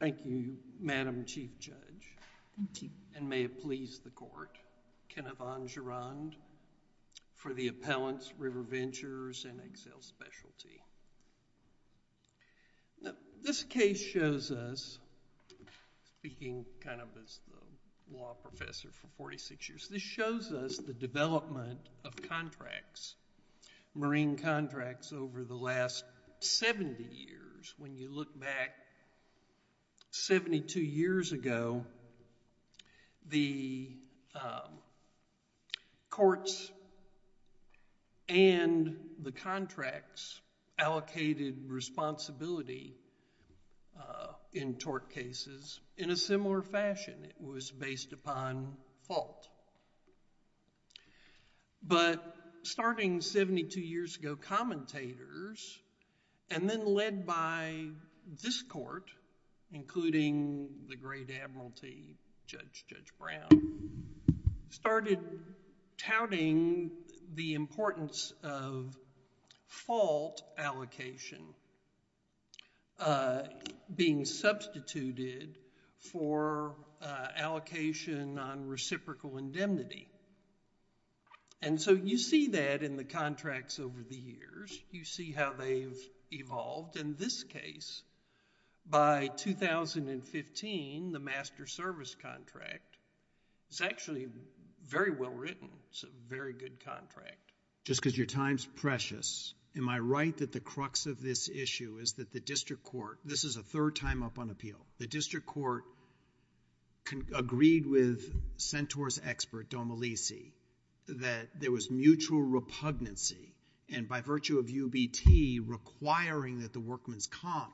Thank you, Madam Chief Judge, and may it please the Court, Kenneth von Gerand, for the Appellant's River Ventures and Excel Specialty. This case shows us, speaking kind of as the law professor for 46 years, this shows us the development of contracts, marine contracts, over the last 70 years. When you look back 72 years ago, the courts and the contracts allocated responsibility in tort cases in a similar fashion. It was based upon fault. But, starting 72 years ago, commentators, and then led by this Court, including the great Admiralty Judge, Judge Brown, started touting the importance of fault allocation being substituted for allocation on reciprocal indemnity. And so, you see that in the contracts over the years. You see how they've evolved. In this case, by 2015, the master service contract is actually very well written. It's a very good contract. Just because your time's precious, am I right that the crux of this issue is that the District Court, this is a third time up on appeal, the District Court agreed with Centaur's expert, Domelisi, that there was mutual repugnancy. And by virtue of UBT requiring that the workman's comp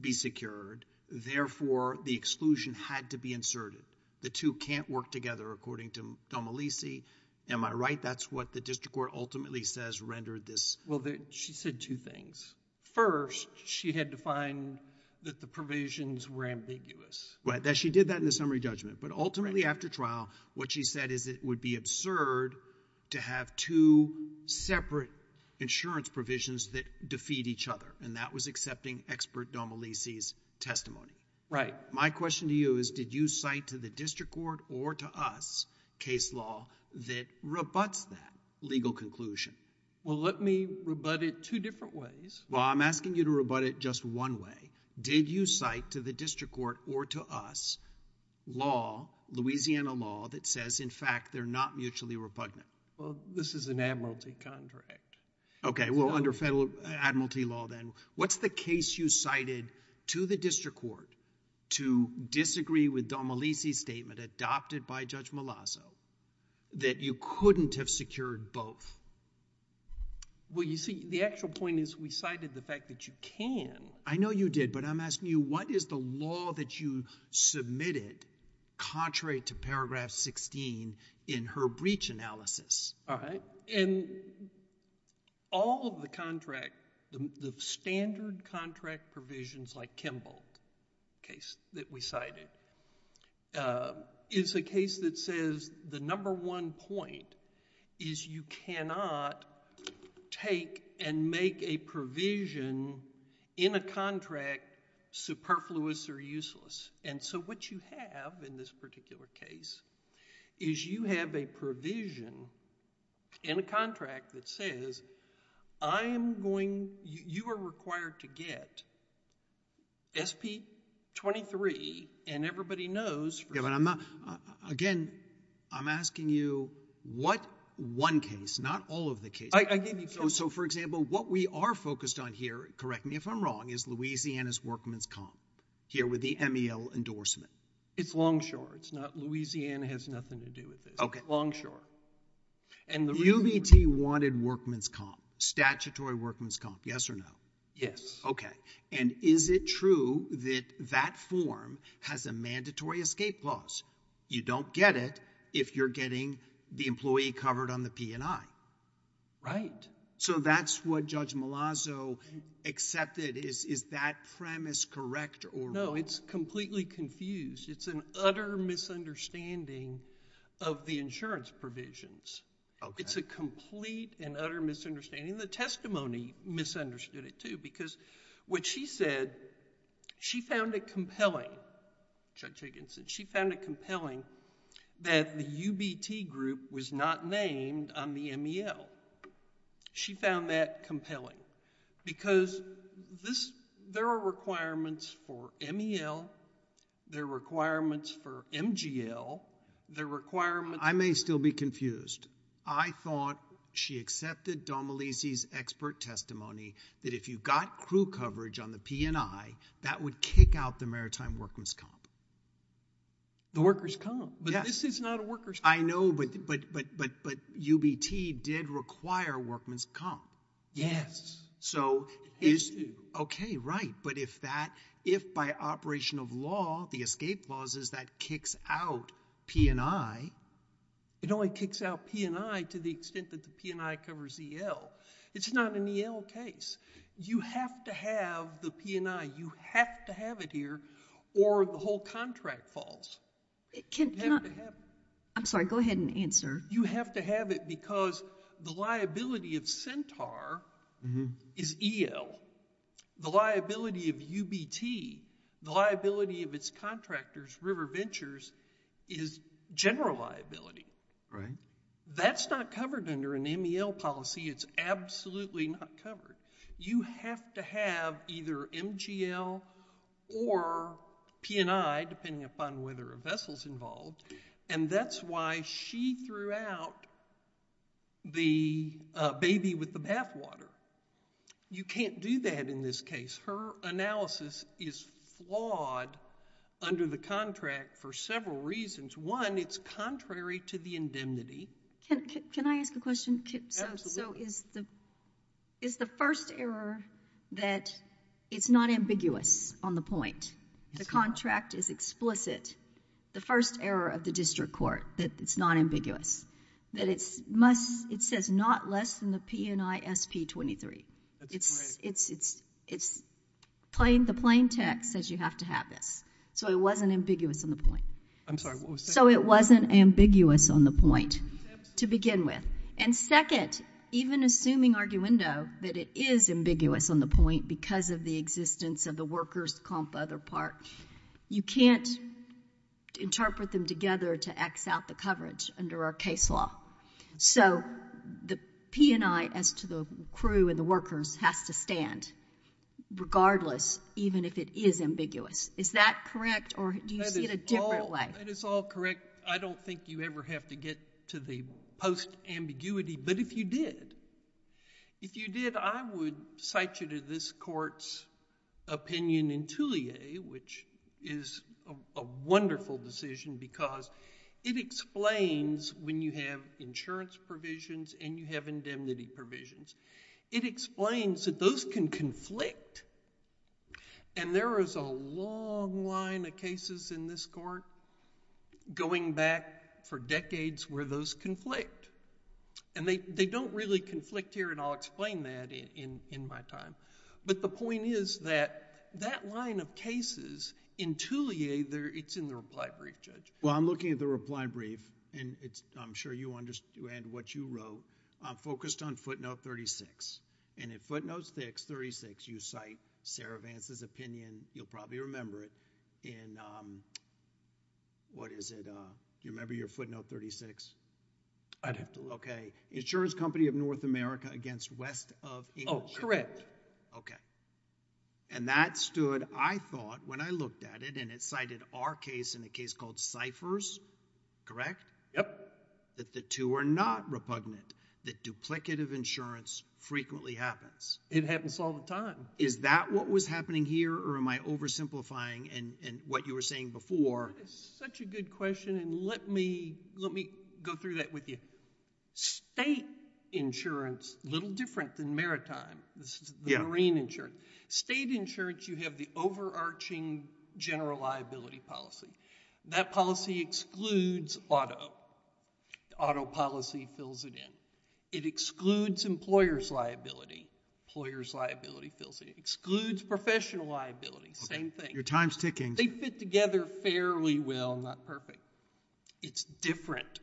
be secured, therefore, the exclusion had to be inserted. The two can't work together, according to Domelisi. Am I right? That's what the District Court ultimately says rendered this... Well, she said two things. First, she had to find that the provisions were ambiguous. Well, she did that in the summary judgment. But ultimately, after trial, what she said is it would be absurd to have two separate insurance provisions that defeat each other. And that was accepting expert Domelisi's testimony. Right. My question to you is, did you cite to the District Court or to us case law that rebutts that legal conclusion? Well, let me rebut it two different ways. Well, I'm asking you to rebut it just one way. Did you cite to the District Court or to us law, Louisiana law, that says, in fact, they're not mutually repugnant? Well, this is an admiralty contract. Okay. Well, under federal admiralty law, then. What's the case you cited to the District Court to disagree with Domelisi's statement adopted by Judge Malazzo that you couldn't have secured both? Well, you see, the actual point is we cited the fact that you can. I know you did, but I'm asking you, what is the law that you submitted contrary to paragraph 16 in her breach analysis? All right. And all of the contract, the standard contract provisions like Kimball case that we cited, is a case that says the number one point is you cannot take and make a provision in a contract superfluous or useless. And so what you have in this particular case is you have a provision in a contract that says you are required to get SP-23 and everybody knows. Again, I'm asking you what one case, not all of the cases. I gave you Kimball. So, for example, what we are focused on here, correct me if I'm wrong, is Louisiana's workman's comp here with the MEL endorsement. It's Longshore. It's not Louisiana has nothing to do with this. Okay. Longshore. UBT wanted workman's comp, statutory workman's comp, yes or no? Yes. Okay. And is it true that that form has a mandatory escape clause? You don't get it if you're getting the employee covered on the P&I. Right. So that's what Judge Malazzo accepted. Is that premise correct? No, it's completely confused. It's an utter misunderstanding of the insurance provisions. Okay. It's a complete and utter misunderstanding. The testimony misunderstood it too because what she said, she found it compelling. Judge Higginson. She found it compelling that the UBT group was not named on the MEL. She found that compelling because there are requirements for MEL. There are requirements for MGL. There are requirements. I may still be confused. I thought she accepted Domelisi's expert testimony that if you got crew coverage on the P&I, that would kick out the maritime workman's comp. The worker's comp. Yes. But this is not a worker's comp. I know, but UBT did require workman's comp. Yes. Okay, right. But if by operation of law, the escape clause is that kicks out P&I. It only kicks out P&I to the extent that the P&I covers EL. It's not an EL case. You have to have the P&I. You have to have it here or the whole contract falls. I'm sorry. Go ahead and answer. You have to have it because the liability of Centaur is EL. The liability of UBT, the liability of its contractors, River Ventures, is general liability. Right. That's not covered under an MEL policy. It's absolutely not covered. You have to have either MGL or P&I, depending upon whether a vessel's involved, and that's why she threw out the baby with the bathwater. You can't do that in this case. Her analysis is flawed under the contract for several reasons. One, it's contrary to the indemnity. Can I ask a question? Absolutely. Is the first error that it's not ambiguous on the point, the contract is explicit, the first error of the district court that it's not ambiguous, that it says not less than the P&I SP-23? That's correct. The plain text says you have to have this, so it wasn't ambiguous on the point. I'm sorry. It wasn't ambiguous on the point to begin with. And second, even assuming arguendo that it is ambiguous on the point because of the existence of the workers' comp other part, you can't interpret them together to X out the coverage under our case law. So the P&I, as to the crew and the workers, has to stand, regardless, even if it is ambiguous. Is that correct, or do you see it a different way? That is all correct. I don't think you ever have to get to the post-ambiguity, but if you did, if you did, I would cite you to this court's opinion in Tullier, which is a wonderful decision because it explains, when you have insurance provisions and you have indemnity provisions, it explains that those can conflict. And there is a long line of cases in this court going back for decades where those conflict. And they don't really conflict here, and I'll explain that in my time. But the point is that that line of cases in Tullier, it's in the reply brief, Judge. Well, I'm looking at the reply brief, and I'm sure you understand what you wrote. I'm focused on footnote 36. And in footnote 36, you cite Sarah Vance's opinion. You'll probably remember it in, what is it? Do you remember your footnote 36? I'd have to look. Okay. Insurance Company of North America against West of England. Oh, correct. Okay. And that stood, I thought, when I looked at it, and it cited our case in a case called Cyphers, correct? Yep. That the two are not repugnant. That duplicative insurance frequently happens. It happens all the time. Is that what was happening here, or am I oversimplifying what you were saying before? It's such a good question, and let me go through that with you. State insurance, a little different than maritime. This is the marine insurance. State insurance, you have the overarching general liability policy. That policy excludes auto. Auto policy fills it in. It excludes employer's liability. Employer's liability fills it in. It excludes professional liability. Same thing. Your time's ticking. They fit together fairly well, not perfect. It's different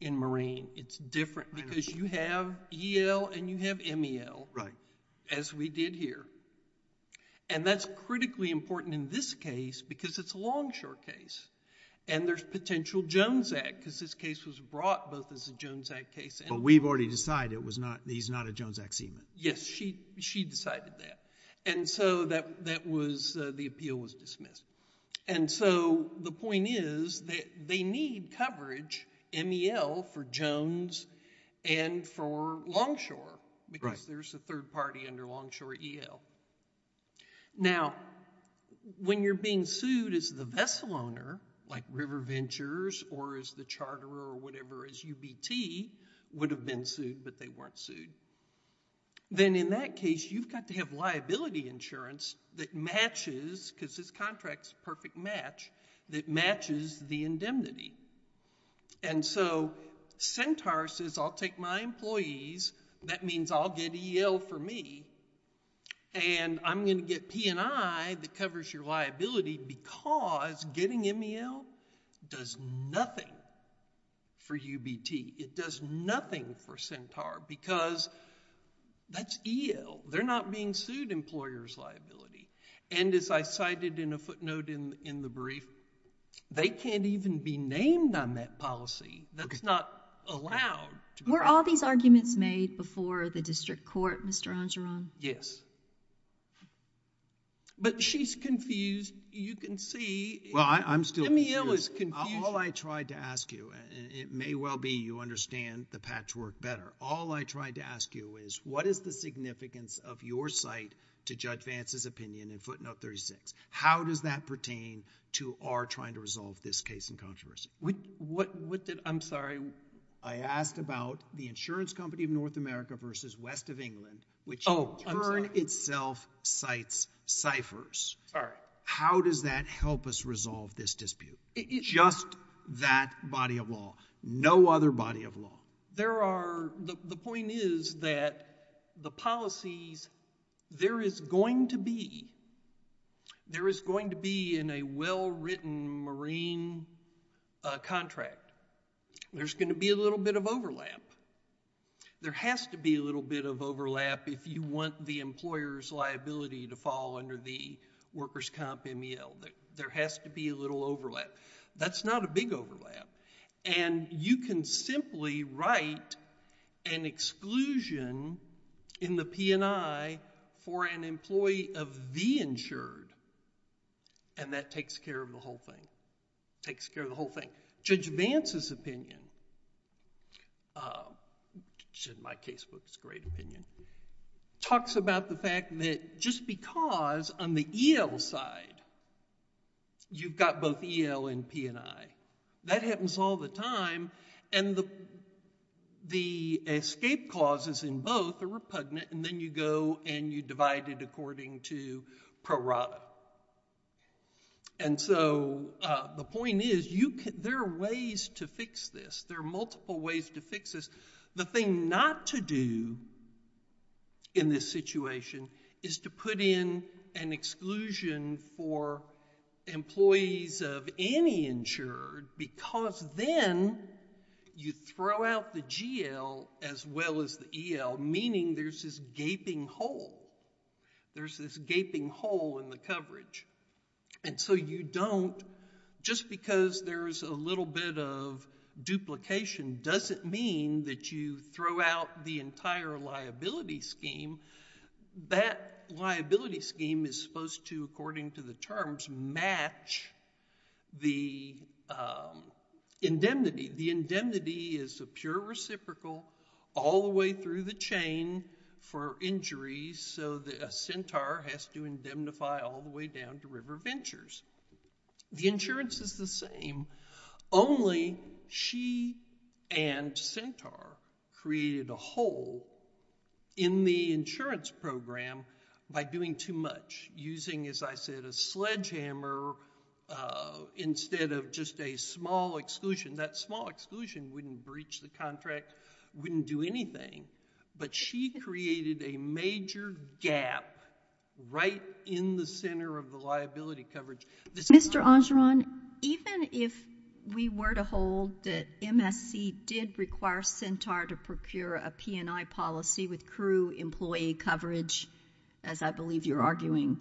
in marine. It's different because you have EL and you have MEL, as we did here. That's critically important in this case because it's a Longshore case, and there's potential Jones Act, because this case was brought both as a Jones Act case and... But we've already decided he's not a Jones Act seaman. Yes. She decided that, and so the appeal was dismissed. The point is that they need coverage, MEL, for Jones and for Longshore, because there's a third party under Longshore EL. Now, when you're being sued as the vessel owner, like River Ventures, or as the charterer or whatever, as UBT, would have been sued, but they weren't sued, then in that case, you've got to have liability insurance that matches, because this contract's a perfect match, that matches the indemnity. And so Centaur says, I'll take my employees. That means I'll get EL for me, and I'm going to get P&I that covers your liability, because getting MEL does nothing for UBT. It does nothing for Centaur, because that's EL. They're not being sued employer's liability. And as I cited in a footnote in the brief, they can't even be named on that policy. That's not allowed. Were all these arguments made before the district court, Mr. Angeron? Yes. But she's confused. You can see... Well, I'm still confused. MEL is confused. All I tried to ask you, and it may well be you understand the patchwork better. All I tried to ask you is, what is the significance of your site to Judge Vance's opinion in footnote 36? How does that pertain to our trying to resolve this case in controversy? What did... I'm sorry. I asked about the insurance company of North America versus West of England, which in turn itself cites ciphers. Sorry. How does that help us resolve this dispute? Just that body of law. No other body of law. There are... The point is that the policies... There is going to be... There is going to be in a well-written marine contract, there's going to be a little bit of overlap. There has to be a little bit of overlap if you want the employer's liability to fall under the workers' comp MEL. There has to be a little overlap. That's not a big overlap. You can simply write an exclusion in the P&I for an employee of the insured, and that takes care of the whole thing. It takes care of the whole thing. Judge Vance's opinion... My casebook's great opinion... talks about the fact that just because on the EL side, you've got both EL and P&I, that happens all the time, and the escape clauses in both are repugnant, and then you go and you divide it according to pro rata. The point is, there are ways to fix this. There are multiple ways to fix this. The thing not to do in this situation is to put in an exclusion for employees of any insured because then you throw out the GL as well as the EL, meaning there's this gaping hole. There's this gaping hole in the coverage. And so you don't... Just because there's a little bit of duplication doesn't mean that you throw out the entire liability scheme and that liability scheme is supposed to, according to the terms, match the indemnity. The indemnity is a pure reciprocal all the way through the chain for injuries, so a centaur has to indemnify all the way down to River Ventures. The insurance is the same. Only she and Centaur created a hole in the insurance program by doing too much, using, as I said, a sledgehammer instead of just a small exclusion. That small exclusion wouldn't breach the contract, wouldn't do anything, but she created a major gap right in the center of the liability coverage. Mr. Angeron, even if we were to hold that MSC did require Centaur to procure a P&I policy with crew employee coverage, as I believe you're arguing,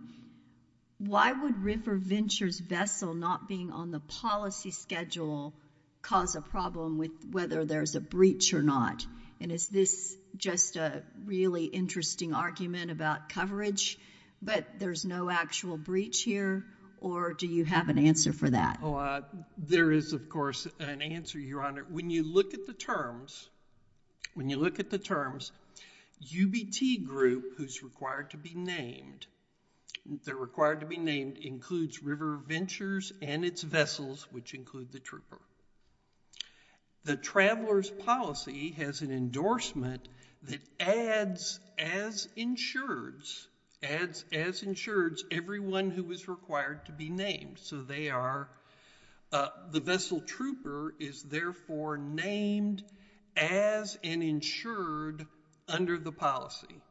why would River Ventures' vessel not being on the policy schedule cause a problem with whether there's a breach or not? And is this just a really interesting argument about coverage, but there's no actual breach here, or do you have an answer for that? There is, of course, an answer, Your Honor. When you look at the terms, UBT Group, who's required to be named, they're required to be named, includes River Ventures and its vessels, which include the trooper. The Traveler's Policy has an endorsement that adds, as insureds, adds, as insureds, everyone who is required to be named. So they are, the vessel trooper is therefore named as an insured under the policy.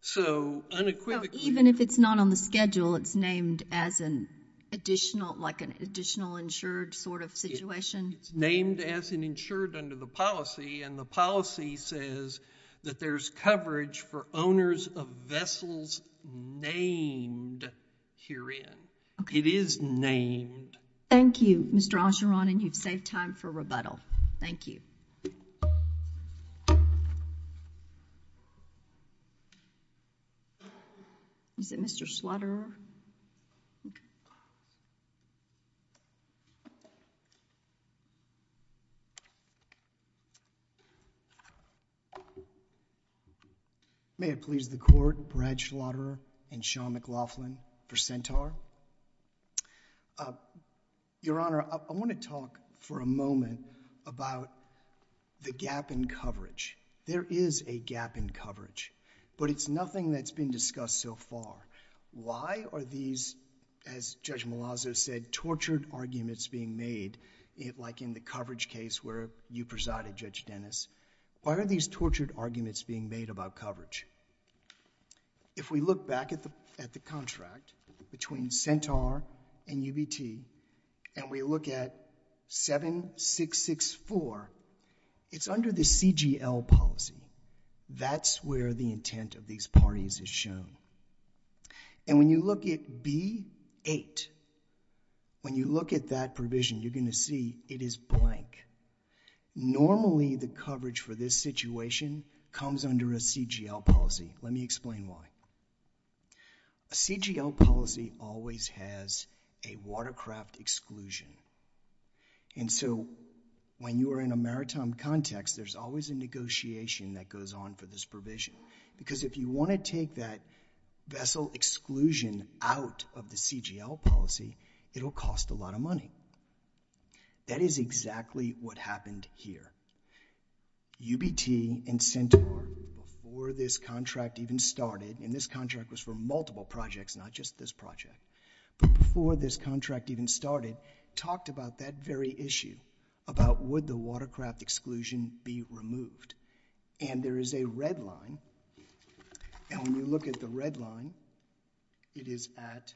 So unequivocally... Even if it's not on the schedule, it's named as an additional, like an additional insured sort of situation? It's named as an insured under the policy, and the policy says that there's coverage for owners of vessels named herein. It is named. Thank you, Mr. Angeron, and you've saved time for rebuttal. Thank you. Is it Mr. Schlatterer? Okay. Thank you. May it please the Court, Brad Schlatterer and Sean McLaughlin for Centaur. Your Honor, I want to talk for a moment about the gap in coverage. There is a gap in coverage, but it's nothing that's been discussed so far. Why are these, as Judge Malazzo said, tortured arguments being made, like in the coverage case where you presided, Judge Dennis, why are these tortured arguments being made about coverage? If we look back at the contract between Centaur and UBT and we look at 7664, it's under the CGL policy. That's where the intent of these parties is shown. And when you look at B8, when you look at that provision, you're going to see it is blank. Normally, the coverage for this situation comes under a CGL policy. Let me explain why. A CGL policy always has a watercraft exclusion. And so when you are in a maritime context, there's always a negotiation that goes on for this provision. Because if you want to take that vessel exclusion out of the CGL policy, it'll cost a lot of money. That is exactly what happened here. UBT and Centaur, before this contract even started, and this contract was for multiple projects, not just this project, but before this contract even started, talked about that very issue, about would the watercraft exclusion be removed. And there is a red line, and when you look at the red line, it is at...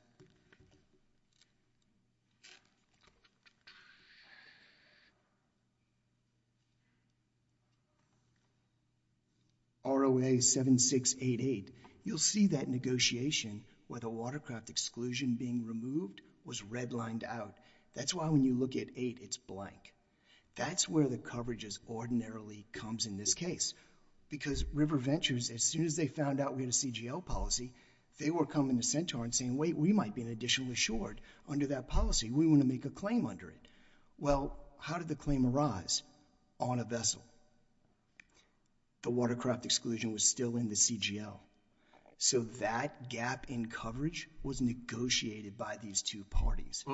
ROA 7688. You'll see that negotiation where the watercraft exclusion being removed was redlined out. That's why when you look at 8, it's blank. That's where the coverage ordinarily comes in this case. Because River Ventures, as soon as they found out we had a CGL policy, they were coming to Centaur and saying, wait, we might be an additional assured under that policy. We want to make a claim under it. Well, how did the claim arise? On a vessel. The watercraft exclusion was still in the CGL. So that gap in coverage was negotiated by these two parties.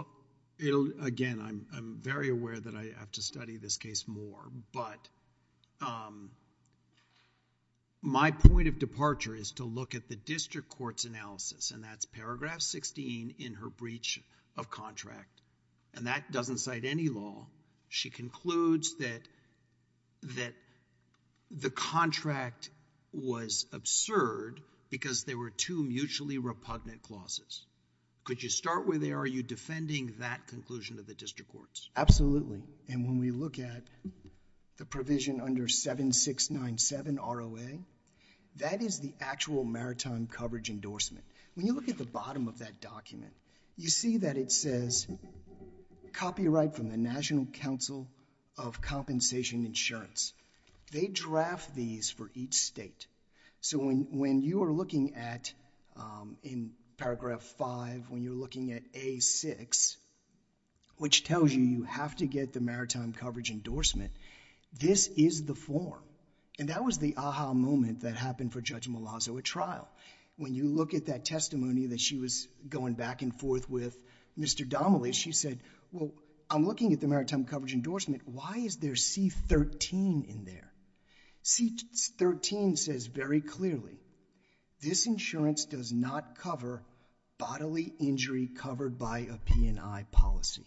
Again, I'm very aware that I have to study this case more, but my point of departure is to look at the district court's analysis, and that's paragraph 16 in her breach of contract. And that doesn't cite any law. She concludes that the contract was absurd because there were two mutually repugnant clauses. Could you start with, are you defending that conclusion of the district courts? Absolutely. And when we look at the provision under 7697 ROA, that is the actual maritime coverage endorsement. When you look at the bottom of that document, you see that it says copyright from the National Council of Compensation Insurance. They draft these for each state. So when you are looking at, in paragraph 5, when you're looking at A6, which tells you you have to get the maritime coverage endorsement, this is the form. And that was the aha moment that happened for Judge Malazzo at trial. When you look at that testimony that she was going back and forth with Mr. Domelius, she said, well, I'm looking at the maritime coverage endorsement. Why is there C-13 in there? C-13 says very clearly, this insurance does not cover bodily injury covered by a P&I policy.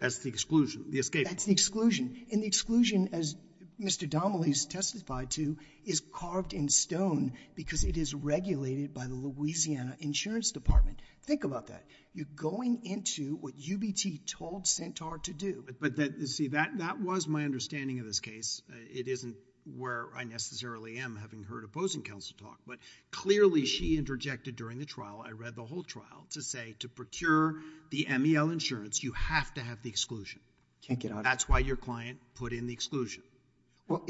That's the exclusion, the escape. That's the exclusion. And the exclusion, as Mr. Domelius testified to, is carved in stone because it is regulated by the Louisiana Insurance Department. Think about that. You're going into what UBT told Centaur to do. But see, that was my understanding of this case. It isn't where I necessarily am, having heard opposing counsel talk. But clearly she interjected during the trial, I read the whole trial, to say, to procure the MEL insurance, you have to have the exclusion. That's why your client put in the exclusion. But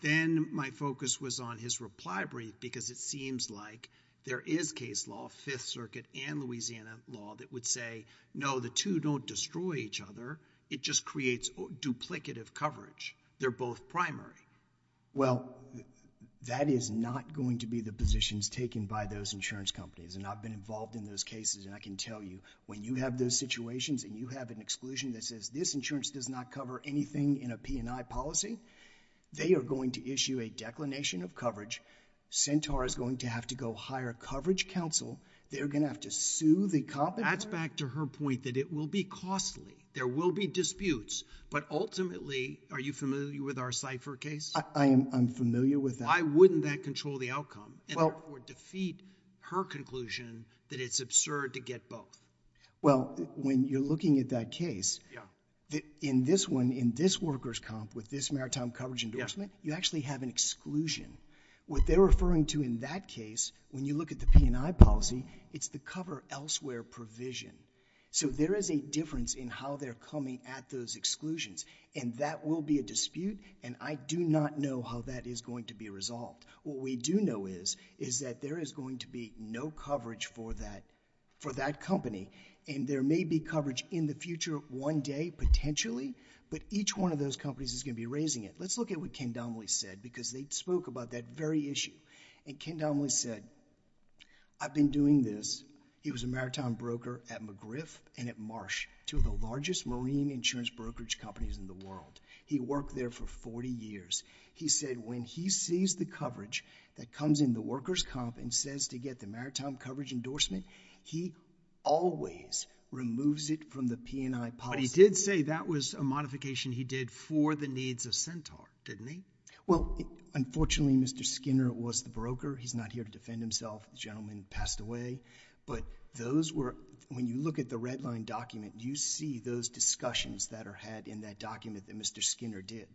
then my focus was on his reply brief because it seems like there is case law, Fifth Circuit and Louisiana law, that would say, no, the two don't destroy each other, it just creates duplicative coverage. They're both primary. Well, that is not going to be the positions taken by those insurance companies, and I've been involved in those cases, and I can tell you, when you have those situations and you have an exclusion that says, this insurance does not cover anything in a P&I policy, they are going to issue a declination of coverage. Centaur is going to have to go hire coverage counsel. They're going to have to sue the company. That's back to her point that it will be costly. There will be disputes. But ultimately, are you familiar with our Cipher case? I'm familiar with that. Why wouldn't that control the outcome or defeat her conclusion that it's absurd to get both? Well, when you're looking at that case, in this one, in this workers' comp, with this maritime coverage endorsement, you actually have an exclusion. What they're referring to in that case, when you look at the P&I policy, it's the cover elsewhere provision. So there is a difference in how they're coming at those exclusions. And that will be a dispute. And I do not know how that is going to be resolved. What we do know is that there is going to be no coverage for that company. And there may be coverage in the future one day, potentially. But each one of those companies is going to be raising it. Let's look at what Ken Domley said, because they spoke about that very issue. And Ken Domley said, I've been doing this. He was a maritime broker at McGriff and at Marsh, two of the largest marine insurance brokerage companies in the world. He worked there for 40 years. He said when he sees the coverage that comes in the workers' comp and says to get the maritime coverage endorsement, he always removes it from the P&I policy. But he did say that was a modification he did for the needs of Centaur, didn't he? Well, unfortunately, Mr. Skinner was the broker. He's not here to defend himself. The gentleman passed away. But when you look at the red line document, you see those discussions that are had in that document that Mr. Skinner did.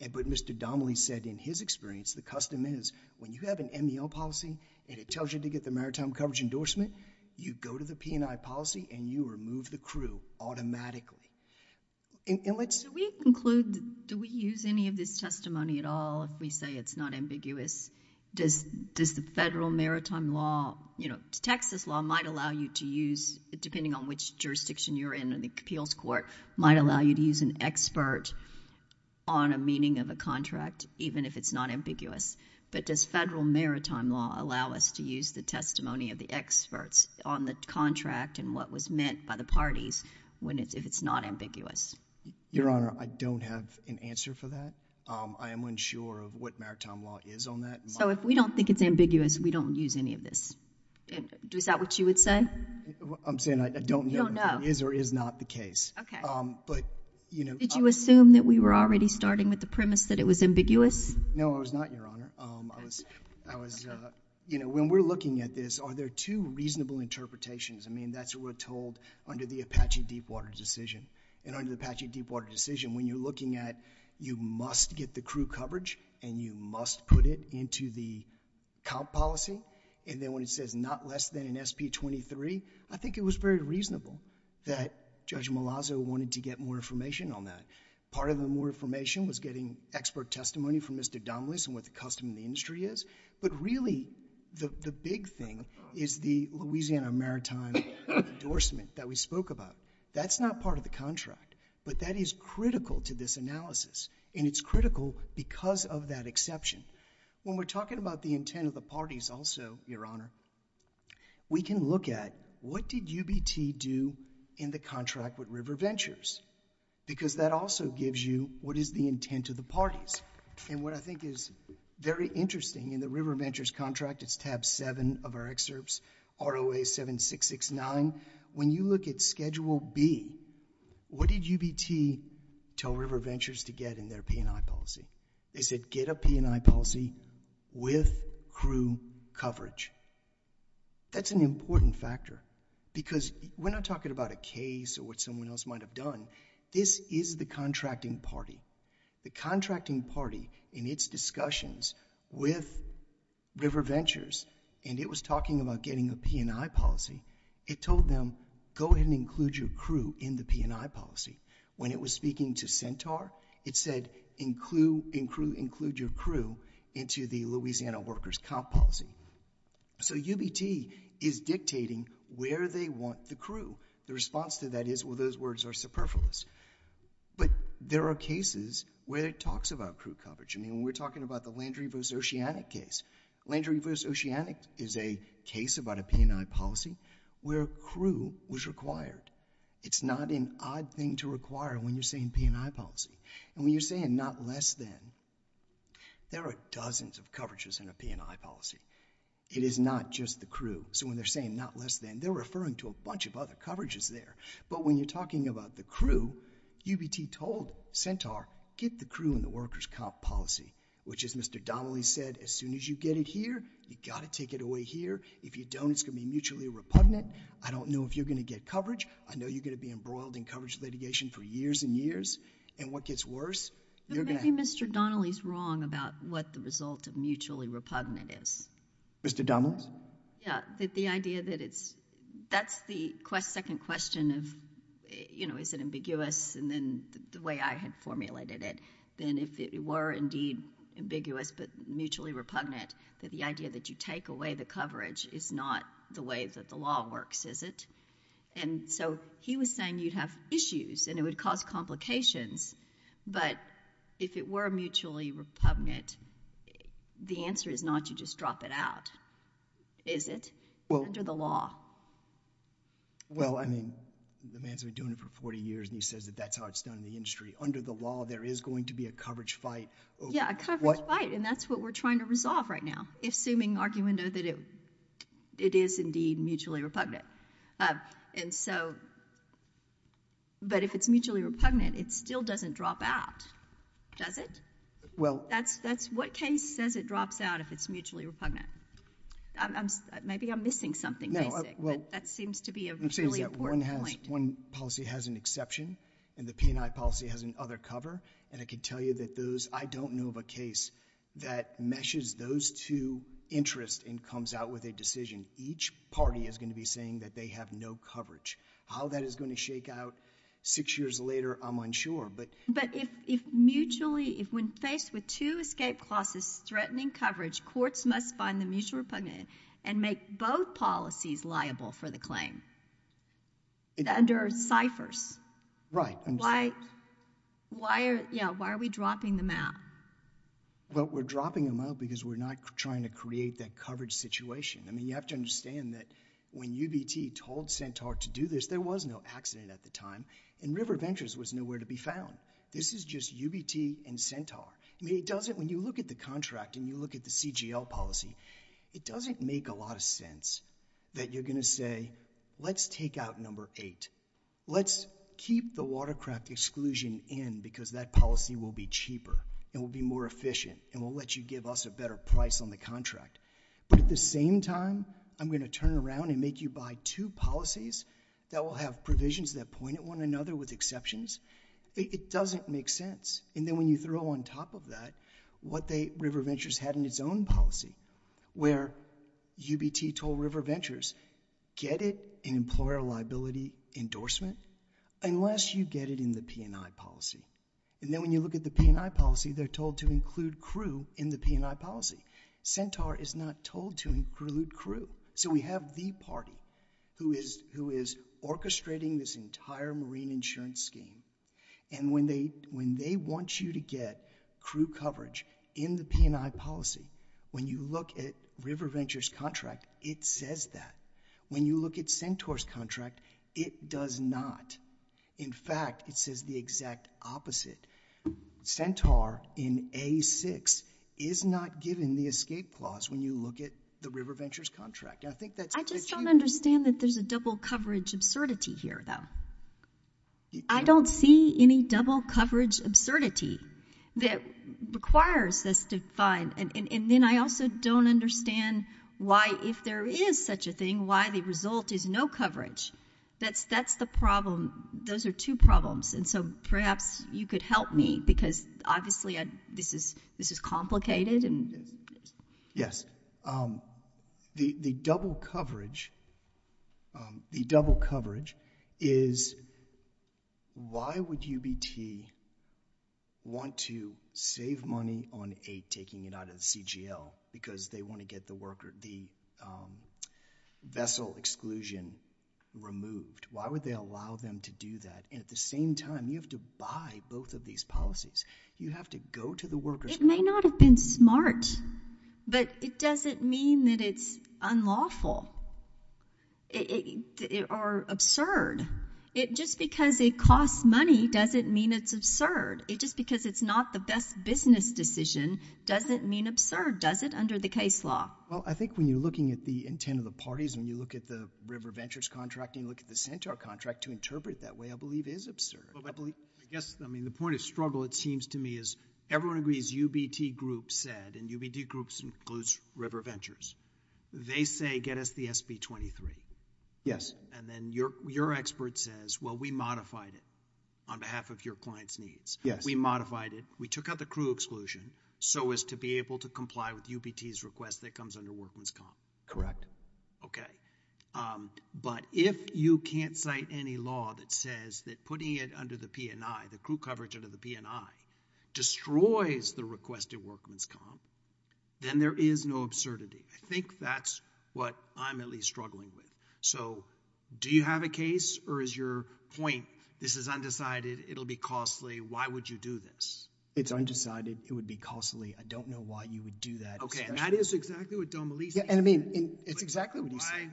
But Mr. Domley said in his experience, the custom is when you have an MEL policy and it tells you to get the maritime coverage endorsement, you go to the P&I policy and you remove the crew automatically. Do we use any of this testimony at all if we say it's not ambiguous? Does the federal maritime law? Texas law might allow you to use, depending on which jurisdiction you're in, and the appeals court might allow you to use an expert on a meaning of a contract even if it's not ambiguous. But does federal maritime law allow us to use the testimony of the experts on the contract and what was meant by the parties if it's not ambiguous? Your Honor, I don't have an answer for that. I am unsure of what maritime law is on that. So if we don't think it's ambiguous, we don't use any of this. Is that what you would say? I'm saying I don't know if that is or is not the case. Did you assume that we were already starting with the premise that it was ambiguous? No, I was not, Your Honor. When we're looking at this, are there two reasonable interpretations? That's what we're told under the Apache Deepwater decision. And under the Apache Deepwater decision, when you're looking at you must get the crew coverage and you must put it into the comp policy. And then when it says not less than an SP-23, I think it was very reasonable that Judge Malazzo wanted to get more information on that. Part of the more information was getting expert testimony from Mr. Domeles and what the custom of the industry is. But really, the big thing is the Louisiana maritime endorsement that we spoke about. That's not part of the contract. But that is critical to this analysis. And it's critical because of that exception. When we're talking about the intent of the parties also, Your Honor, we can look at what did UBT do in the contract with River Ventures? Because that also gives you what is the intent of the parties. And what I think is very interesting in the River Ventures contract, it's tab 7 of our excerpts, ROA 7669. When you look at schedule B, what did UBT tell River Ventures to get in their P&I policy? They said get a P&I policy with crew coverage. That's an important factor because we're not talking about a case or what someone else might have done. This is the contracting party. The contracting party in its discussions with River Ventures and it was talking about getting a P&I policy, it told them go ahead and include your crew in the P&I policy. When it was speaking to Centaur, it said include your crew into the Louisiana workers comp policy. So UBT is dictating where they want the crew. The response to that is, well, those words are superfluous. But there are cases where it talks about crew coverage. I mean, we're talking about the Land Reverse Oceanic case. Land Reverse Oceanic is a case about a P&I policy where crew was required. It's not an odd thing to require when you're saying P&I policy. And when you're saying not less than, there are dozens of coverages in a P&I policy. It is not just the crew. So when they're saying not less than, they're referring to a bunch of other coverages there. But when you're talking about the crew, UBT told Centaur get the crew in the workers comp policy, which as Mr. Donnelly said, as soon as you get it here, you've got to take it away here. If you don't, it's going to be mutually repugnant. I don't know if you're going to get coverage. I know you're going to be embroiled in coverage litigation for years and years. And what gets worse? Maybe Mr. Donnelly's wrong about what the result of mutually repugnant is. Mr. Donnelly? Yeah, the idea that it's, that's the second question of, is it ambiguous? And then the way I had formulated it, then if it were indeed ambiguous but mutually repugnant, that the idea that you take away the coverage is not the way that the law works, is it? And so he was saying you'd have issues, and it would cause complications. But if it were mutually repugnant, the answer is not you just drop it out, is it? Under the law. Well, I mean, the man's been doing it for 40 years, and he says that that's how it's done in the industry. Under the law, there is going to be a coverage fight. Yeah, a coverage fight. And that's what we're trying to resolve right now, assuming argumentatively, it is indeed mutually repugnant. And so, but if it's mutually repugnant, it still doesn't drop out, does it? Well. That's what case says it drops out if it's mutually repugnant. Maybe I'm missing something basic, but that seems to be a really important point. It seems that one policy has an exception, and the P&I policy has an other cover. And I can tell you that those, I don't know of a case that meshes those two interests and comes out with a decision. Each party is going to be saying that they have no coverage. How that is going to shake out six years later, I'm unsure. But if mutually, if when faced with two escape clauses threatening coverage, courts must find the mutual repugnant and make both policies liable for the claim. And there are ciphers. Right. Why are we dropping them out? Well, we're dropping them out because we're not trying to create that coverage situation. I mean, you have to understand that when UBT told Centaur to do this, there was no accident at the time, and River Ventures was nowhere to be found. This is just UBT and Centaur. I mean, it doesn't, when you look at the contract and you look at the CGL policy, it doesn't make a lot of sense that you're going to say, let's take out number eight. Let's keep the watercraft exclusion in because that policy will be cheaper and will be more efficient and will let you give us a better price on the contract. But at the same time, I'm going to turn around and make you buy two policies that will have provisions that point at one another with exceptions. It doesn't make sense. And then when you throw on top of that what River Ventures had in its own policy, where UBT told River Ventures, get it in employer liability endorsement unless you get it in the P&I policy. And then when you look at the P&I policy, they're told to include crew in the P&I policy. Centaur is not told to include crew. So we have the party who is orchestrating this entire marine insurance scheme, and when they want you to get crew coverage in the P&I policy, when you look at River Ventures' contract, it says that. When you look at Centaur's contract, it does not. In fact, it says the exact opposite. Centaur in A6 is not given the escape clause when you look at the River Ventures contract. I just don't understand that there's a double coverage absurdity here, though. I don't see any double coverage absurdity that requires us to find... And then I also don't understand why, if there is such a thing, why the result is no coverage. That's the problem. Those are two problems. And so perhaps you could help me, because obviously this is complicated and... Yes. The double coverage... The double coverage is... Why would UBT want to save money on aid, taking it out of the CGL, because they want to get the vessel exclusion removed? Why would they allow them to do that? And at the same time, you have to buy both of these policies. You have to go to the workers... It may not have been smart, but it doesn't mean that it's unlawful. Or absurd. Just because it costs money doesn't mean it's absurd. Just because it's not the best business decision doesn't mean absurd, does it, under the case law? Well, I think when you're looking at the intent of the parties, when you look at the River Ventures contract and you look at the Centaur contract, to interpret it that way, I believe, is absurd. I guess, I mean, the point of struggle, it seems to me, is everyone agrees UBT Group said, and UBT Group includes River Ventures, they say, get us the SB23. Yes. And then your expert says, well, we modified it on behalf of your client's needs. Yes. We modified it. We took out the crew exclusion so as to be able to comply with UBT's request that comes under Workman's Comp. Correct. Okay. But if you can't cite any law that says that putting it under the P&I, the crew coverage under the P&I, destroys the request at Workman's Comp, then there is no absurdity. I think that's what I'm at least struggling with. So do you have a case, or is your point, this is undecided, it'll be costly, why would you do this? It's undecided, it would be costly, I don't know why you would do that. Okay, and that is exactly what Domelisi said. Yeah, and I mean, it's exactly what he said.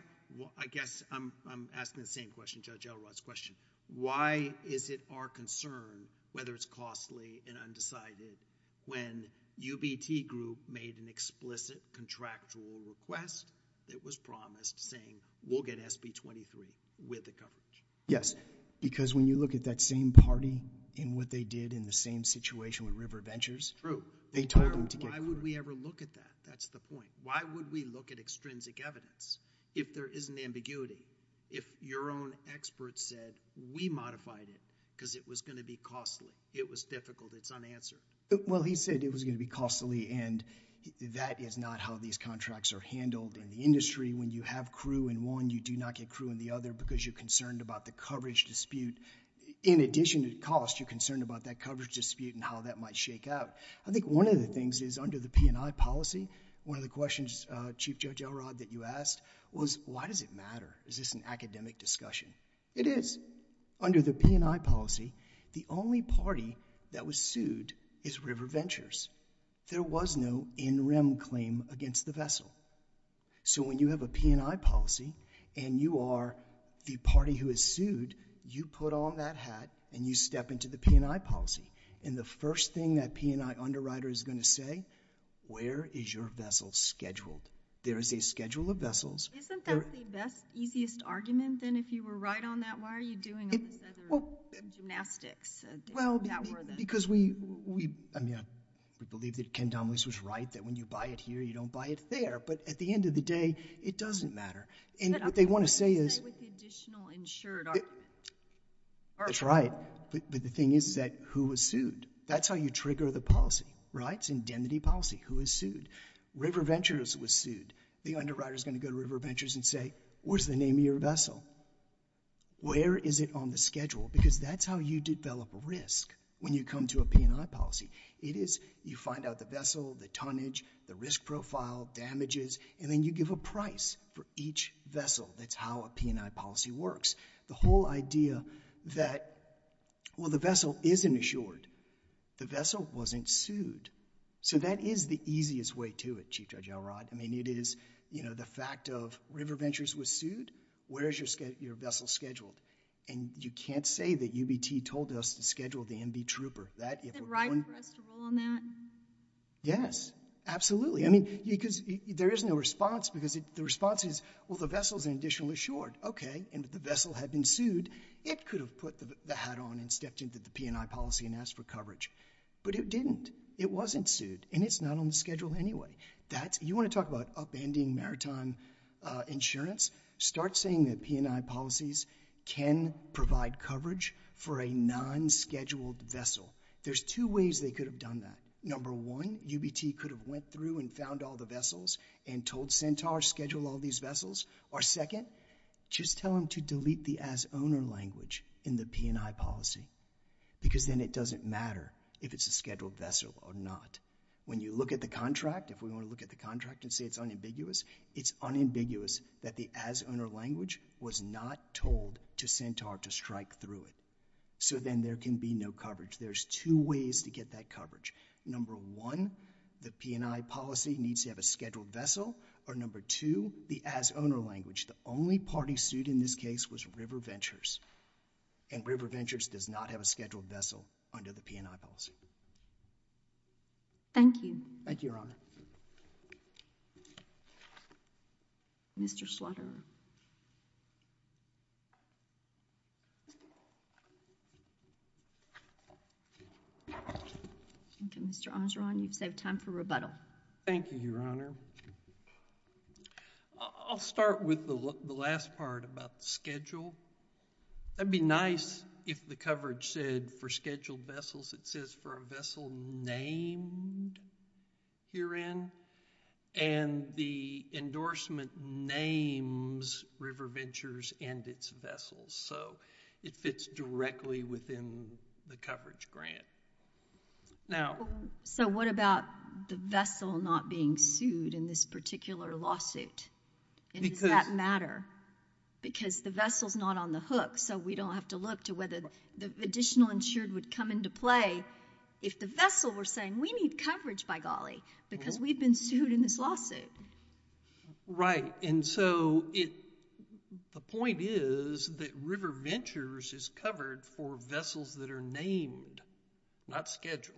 I guess I'm asking the same question, Judge Elrod's question. Why is it our concern whether it's costly and undecided when UBT Group made an explicit contractual request that was promised saying, we'll get SB 23 with the coverage? Yes, because when you look at that same party and what they did in the same situation with River Ventures, True. They told them to get coverage. Why would we ever look at that? That's the point. Why would we look at extrinsic evidence if there isn't ambiguity? If your own experts said, we modified it because it was going to be costly, it was difficult, it's unanswered. Well, he said it was going to be costly and that is not how these contracts are handled in the industry. When you have crew in one, you do not get crew in the other because you're concerned about the coverage dispute. In addition to cost, you're concerned about that coverage dispute and how that might shake out. I think one of the things is under the P&I policy, one of the questions, Chief Judge Elrod, that you asked was, why does it matter? Is this an academic discussion? It is. Under the P&I policy, the only party that was sued is River Ventures. There was no in-rim claim against the vessel. So when you have a P&I policy and you are the party who is sued, you put on that hat and you step into the P&I policy. And the first thing that P&I underwriter is going to say, where is your vessel scheduled? There is a schedule of vessels. Isn't that the best, easiest argument then if you were right on that? Why are you doing all this other gymnastics? Well, because we believe that Ken Domeles was right, that when you buy it here, you don't buy it there. But at the end of the day, it doesn't matter. And what they want to say is... But I'm trying to say what the additional insured are. That's right. But the thing is that who was sued. That's how you trigger the policy, right? It's indemnity policy. Who was sued? River Ventures was sued. The underwriter is going to go to River Ventures and say, where's the name of your vessel? Where is it on the schedule? Because that's how you develop risk when you come to a P&I policy. It is you find out the vessel, the tonnage, the risk profile, damages, and then you give a price for each vessel. That's how a P&I policy works. The whole idea that, well, the vessel isn't insured. The vessel wasn't sued. So that is the easiest way to it, Chief Judge Elrod. I mean, it is the fact of River Ventures was sued. Where is your vessel scheduled? And you can't say that UBT told us to schedule the MV Trooper. Is it right for us to rule on that? Yes, absolutely. I mean, because there is no response because the response is, well, the vessel is an additional insured. Okay, and if the vessel had been sued, it could have put the hat on and stepped into the P&I policy and asked for coverage. But it didn't. It wasn't sued, and it's not on the schedule anyway. You want to talk about upending maritime insurance? Start saying that P&I policies can provide coverage for a non-scheduled vessel. There's two ways they could have done that. Number one, UBT could have went through and found all the vessels and told Centaur, schedule all these vessels. Or second, just tell them to delete the as-owner language in the P&I policy because then it doesn't matter if it's a scheduled vessel or not. When you look at the contract, if we want to look at the contract and say it's unambiguous, it's unambiguous that the as-owner language was not told to Centaur to strike through it. So then there can be no coverage. There's two ways to get that coverage. Number one, the P&I policy needs to have a scheduled vessel, or number two, the as-owner language. The only party sued in this case was River Ventures, and River Ventures does not have a scheduled vessel under the P&I policy. Thank you. Thank you, Your Honor. Thank you, Your Honor. Mr. Slaughter. Mr. Armstrong, you've saved time for rebuttal. Thank you, Your Honor. I'll start with the last part about the schedule. That'd be nice if the coverage said for scheduled vessels it says for a vessel named herein, and the endorsement names River Ventures and its vessels. So it fits directly within the coverage grant. So what about the vessel not being sued in this particular lawsuit? Does that matter? Because the vessel's not on the hook, so we don't have to look to whether the additional insured would come into play if the vessel were saying, we need coverage by golly, because we've been sued in this lawsuit. Right. And so the point is that River Ventures is covered for vessels that are named, not scheduled.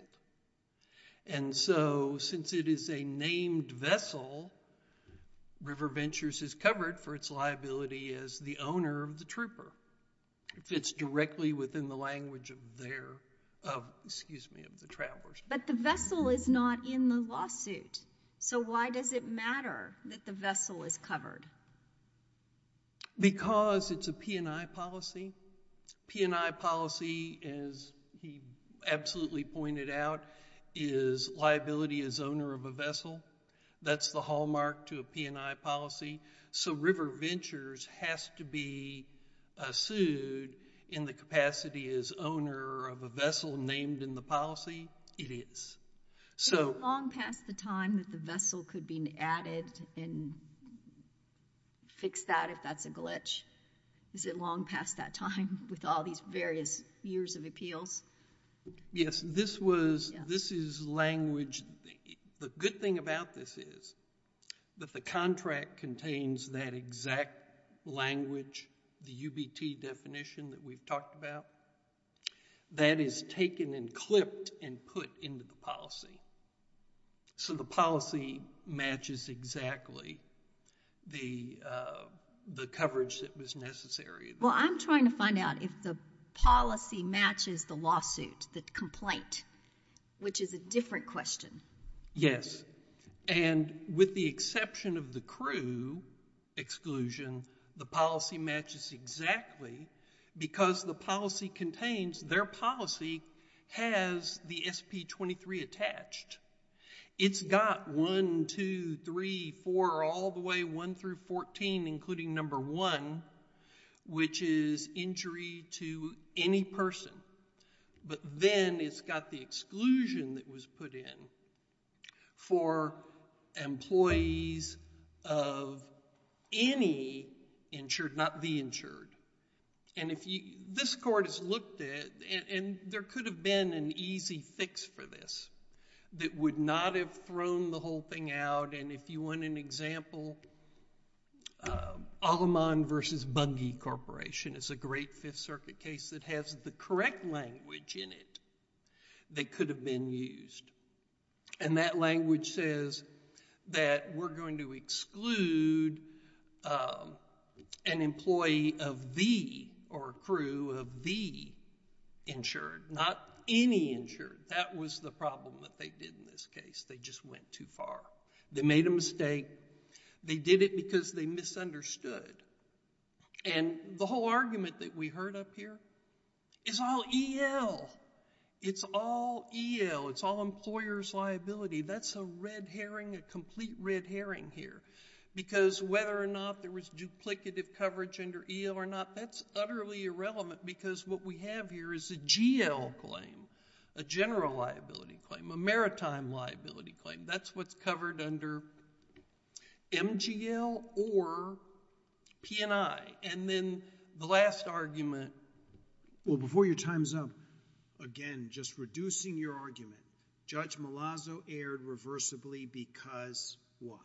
And so since it is a named vessel, River Ventures is covered for its liability as the owner of the trooper. It fits directly within the language of the travelers. But the vessel is not in the lawsuit. So why does it matter that the vessel is covered? Because it's a P&I policy. P&I policy, as he absolutely pointed out, is liability as owner of a vessel. That's the hallmark to a P&I policy. So River Ventures has to be sued in the capacity as owner of a vessel named in the policy? It is. Is it long past the time that the vessel could be added and fix that if that's a glitch? Is it long past that time with all these various years of appeals? Yes. This is language. The good thing about this is that the contract contains that exact language, the UBT definition that we've talked about, that is taken and clipped and put into the policy. So the policy matches exactly the coverage that was necessary. Well, I'm trying to find out if the policy matches the lawsuit, the complaint, which is a different question. Yes. And with the exception of the crew exclusion, the policy matches exactly because the policy contains, their policy has the SP-23 attached. It's got 1, 2, 3, 4, all the way 1 through 14, including number 1, which is injury to any person. But then it's got the exclusion that was put in for employees of any insured, not the insured. And this court has looked at, and there could have been an easy fix for this that would not have thrown the whole thing out. And if you want an example, Alamond versus Buggy Corporation is a great Fifth Circuit case that has the correct language in it that could have been used. And that language says that we're going to exclude an employee of the or crew of the insured, not any insured. That was the problem that they did in this case. They just went too far. They made a mistake. They did it because they misunderstood. And the whole argument that we heard up here is all EL. It's all EL. It's all employer's liability. That's a red herring, a complete red herring here. Because whether or not there was duplicative coverage under EL or not, that's utterly irrelevant. Because what we have here is a GL claim, a general liability claim, a maritime liability claim. That's what's covered under MGL or P&I. And then the last argument. Well, before your time's up, again, just reducing your argument, Judge Malazzo erred reversibly because what?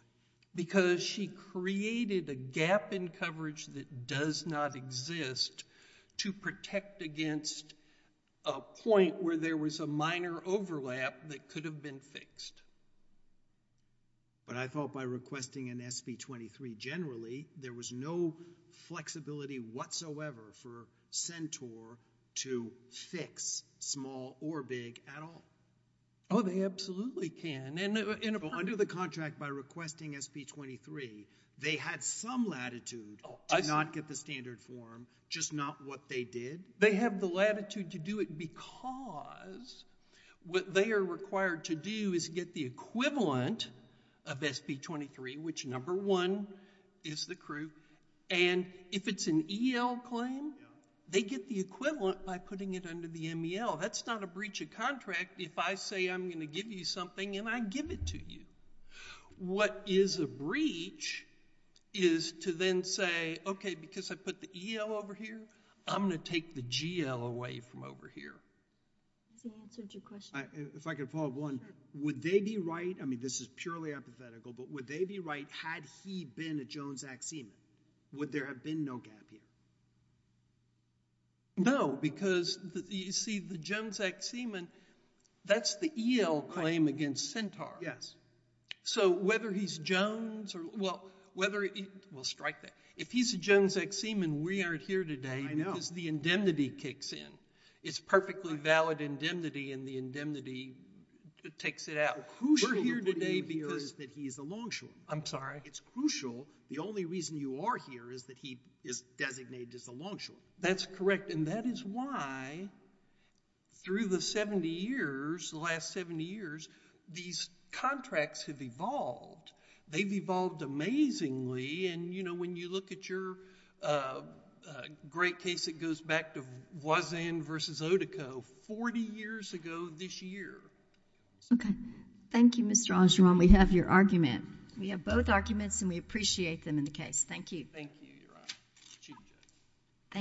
Because she created a gap in coverage that does not exist to protect against a point where there was a minor overlap that could have been fixed. But I thought by requesting an SP-23 generally, there was no flexibility whatsoever for Centaur to fix small or big at all. Oh, they absolutely can. Under the contract, by requesting SP-23, they had some latitude to not get the standard form, just not what they did. They have the latitude to do it because what they are required to do is get the equivalent of SP-23, which number one is the crew. And if it's an EL claim, they get the equivalent by putting it under the MGL. That's not a breach of contract if I say I'm going to give you something and I give it to you. What is a breach is to then say, OK, because I put the EL over here, I'm going to take the GL away from over here. That's an answer to your question. If I could follow up on one. Would they be right? I mean, this is purely hypothetical. But would they be right had he been a Jones Act seaman? Would there have been no gap here? No. Because you see, the Jones Act seaman, that's the EL claim against Centaur. Yes. So whether he's Jones or, well, whether he, well, strike that. If he's a Jones Act seaman, we aren't here today. I know. Because the indemnity kicks in. It's perfectly valid indemnity. And the indemnity takes it out. We're here today because that he is a longshoreman. I'm sorry. It's crucial. The only reason you are here is that he is designated as a longshoreman. That's correct. And that is why through the 70 years, the last 70 years, these contracts have evolved. They've evolved amazingly. And when you look at your great case, it goes back to Voisin versus Otico 40 years ago this year. OK. Thank you, Mr. Angeron. We have your argument. We have both arguments. And we appreciate them in the case. Thank you. Thank you, Your Honor. Chief Judge. Thank you.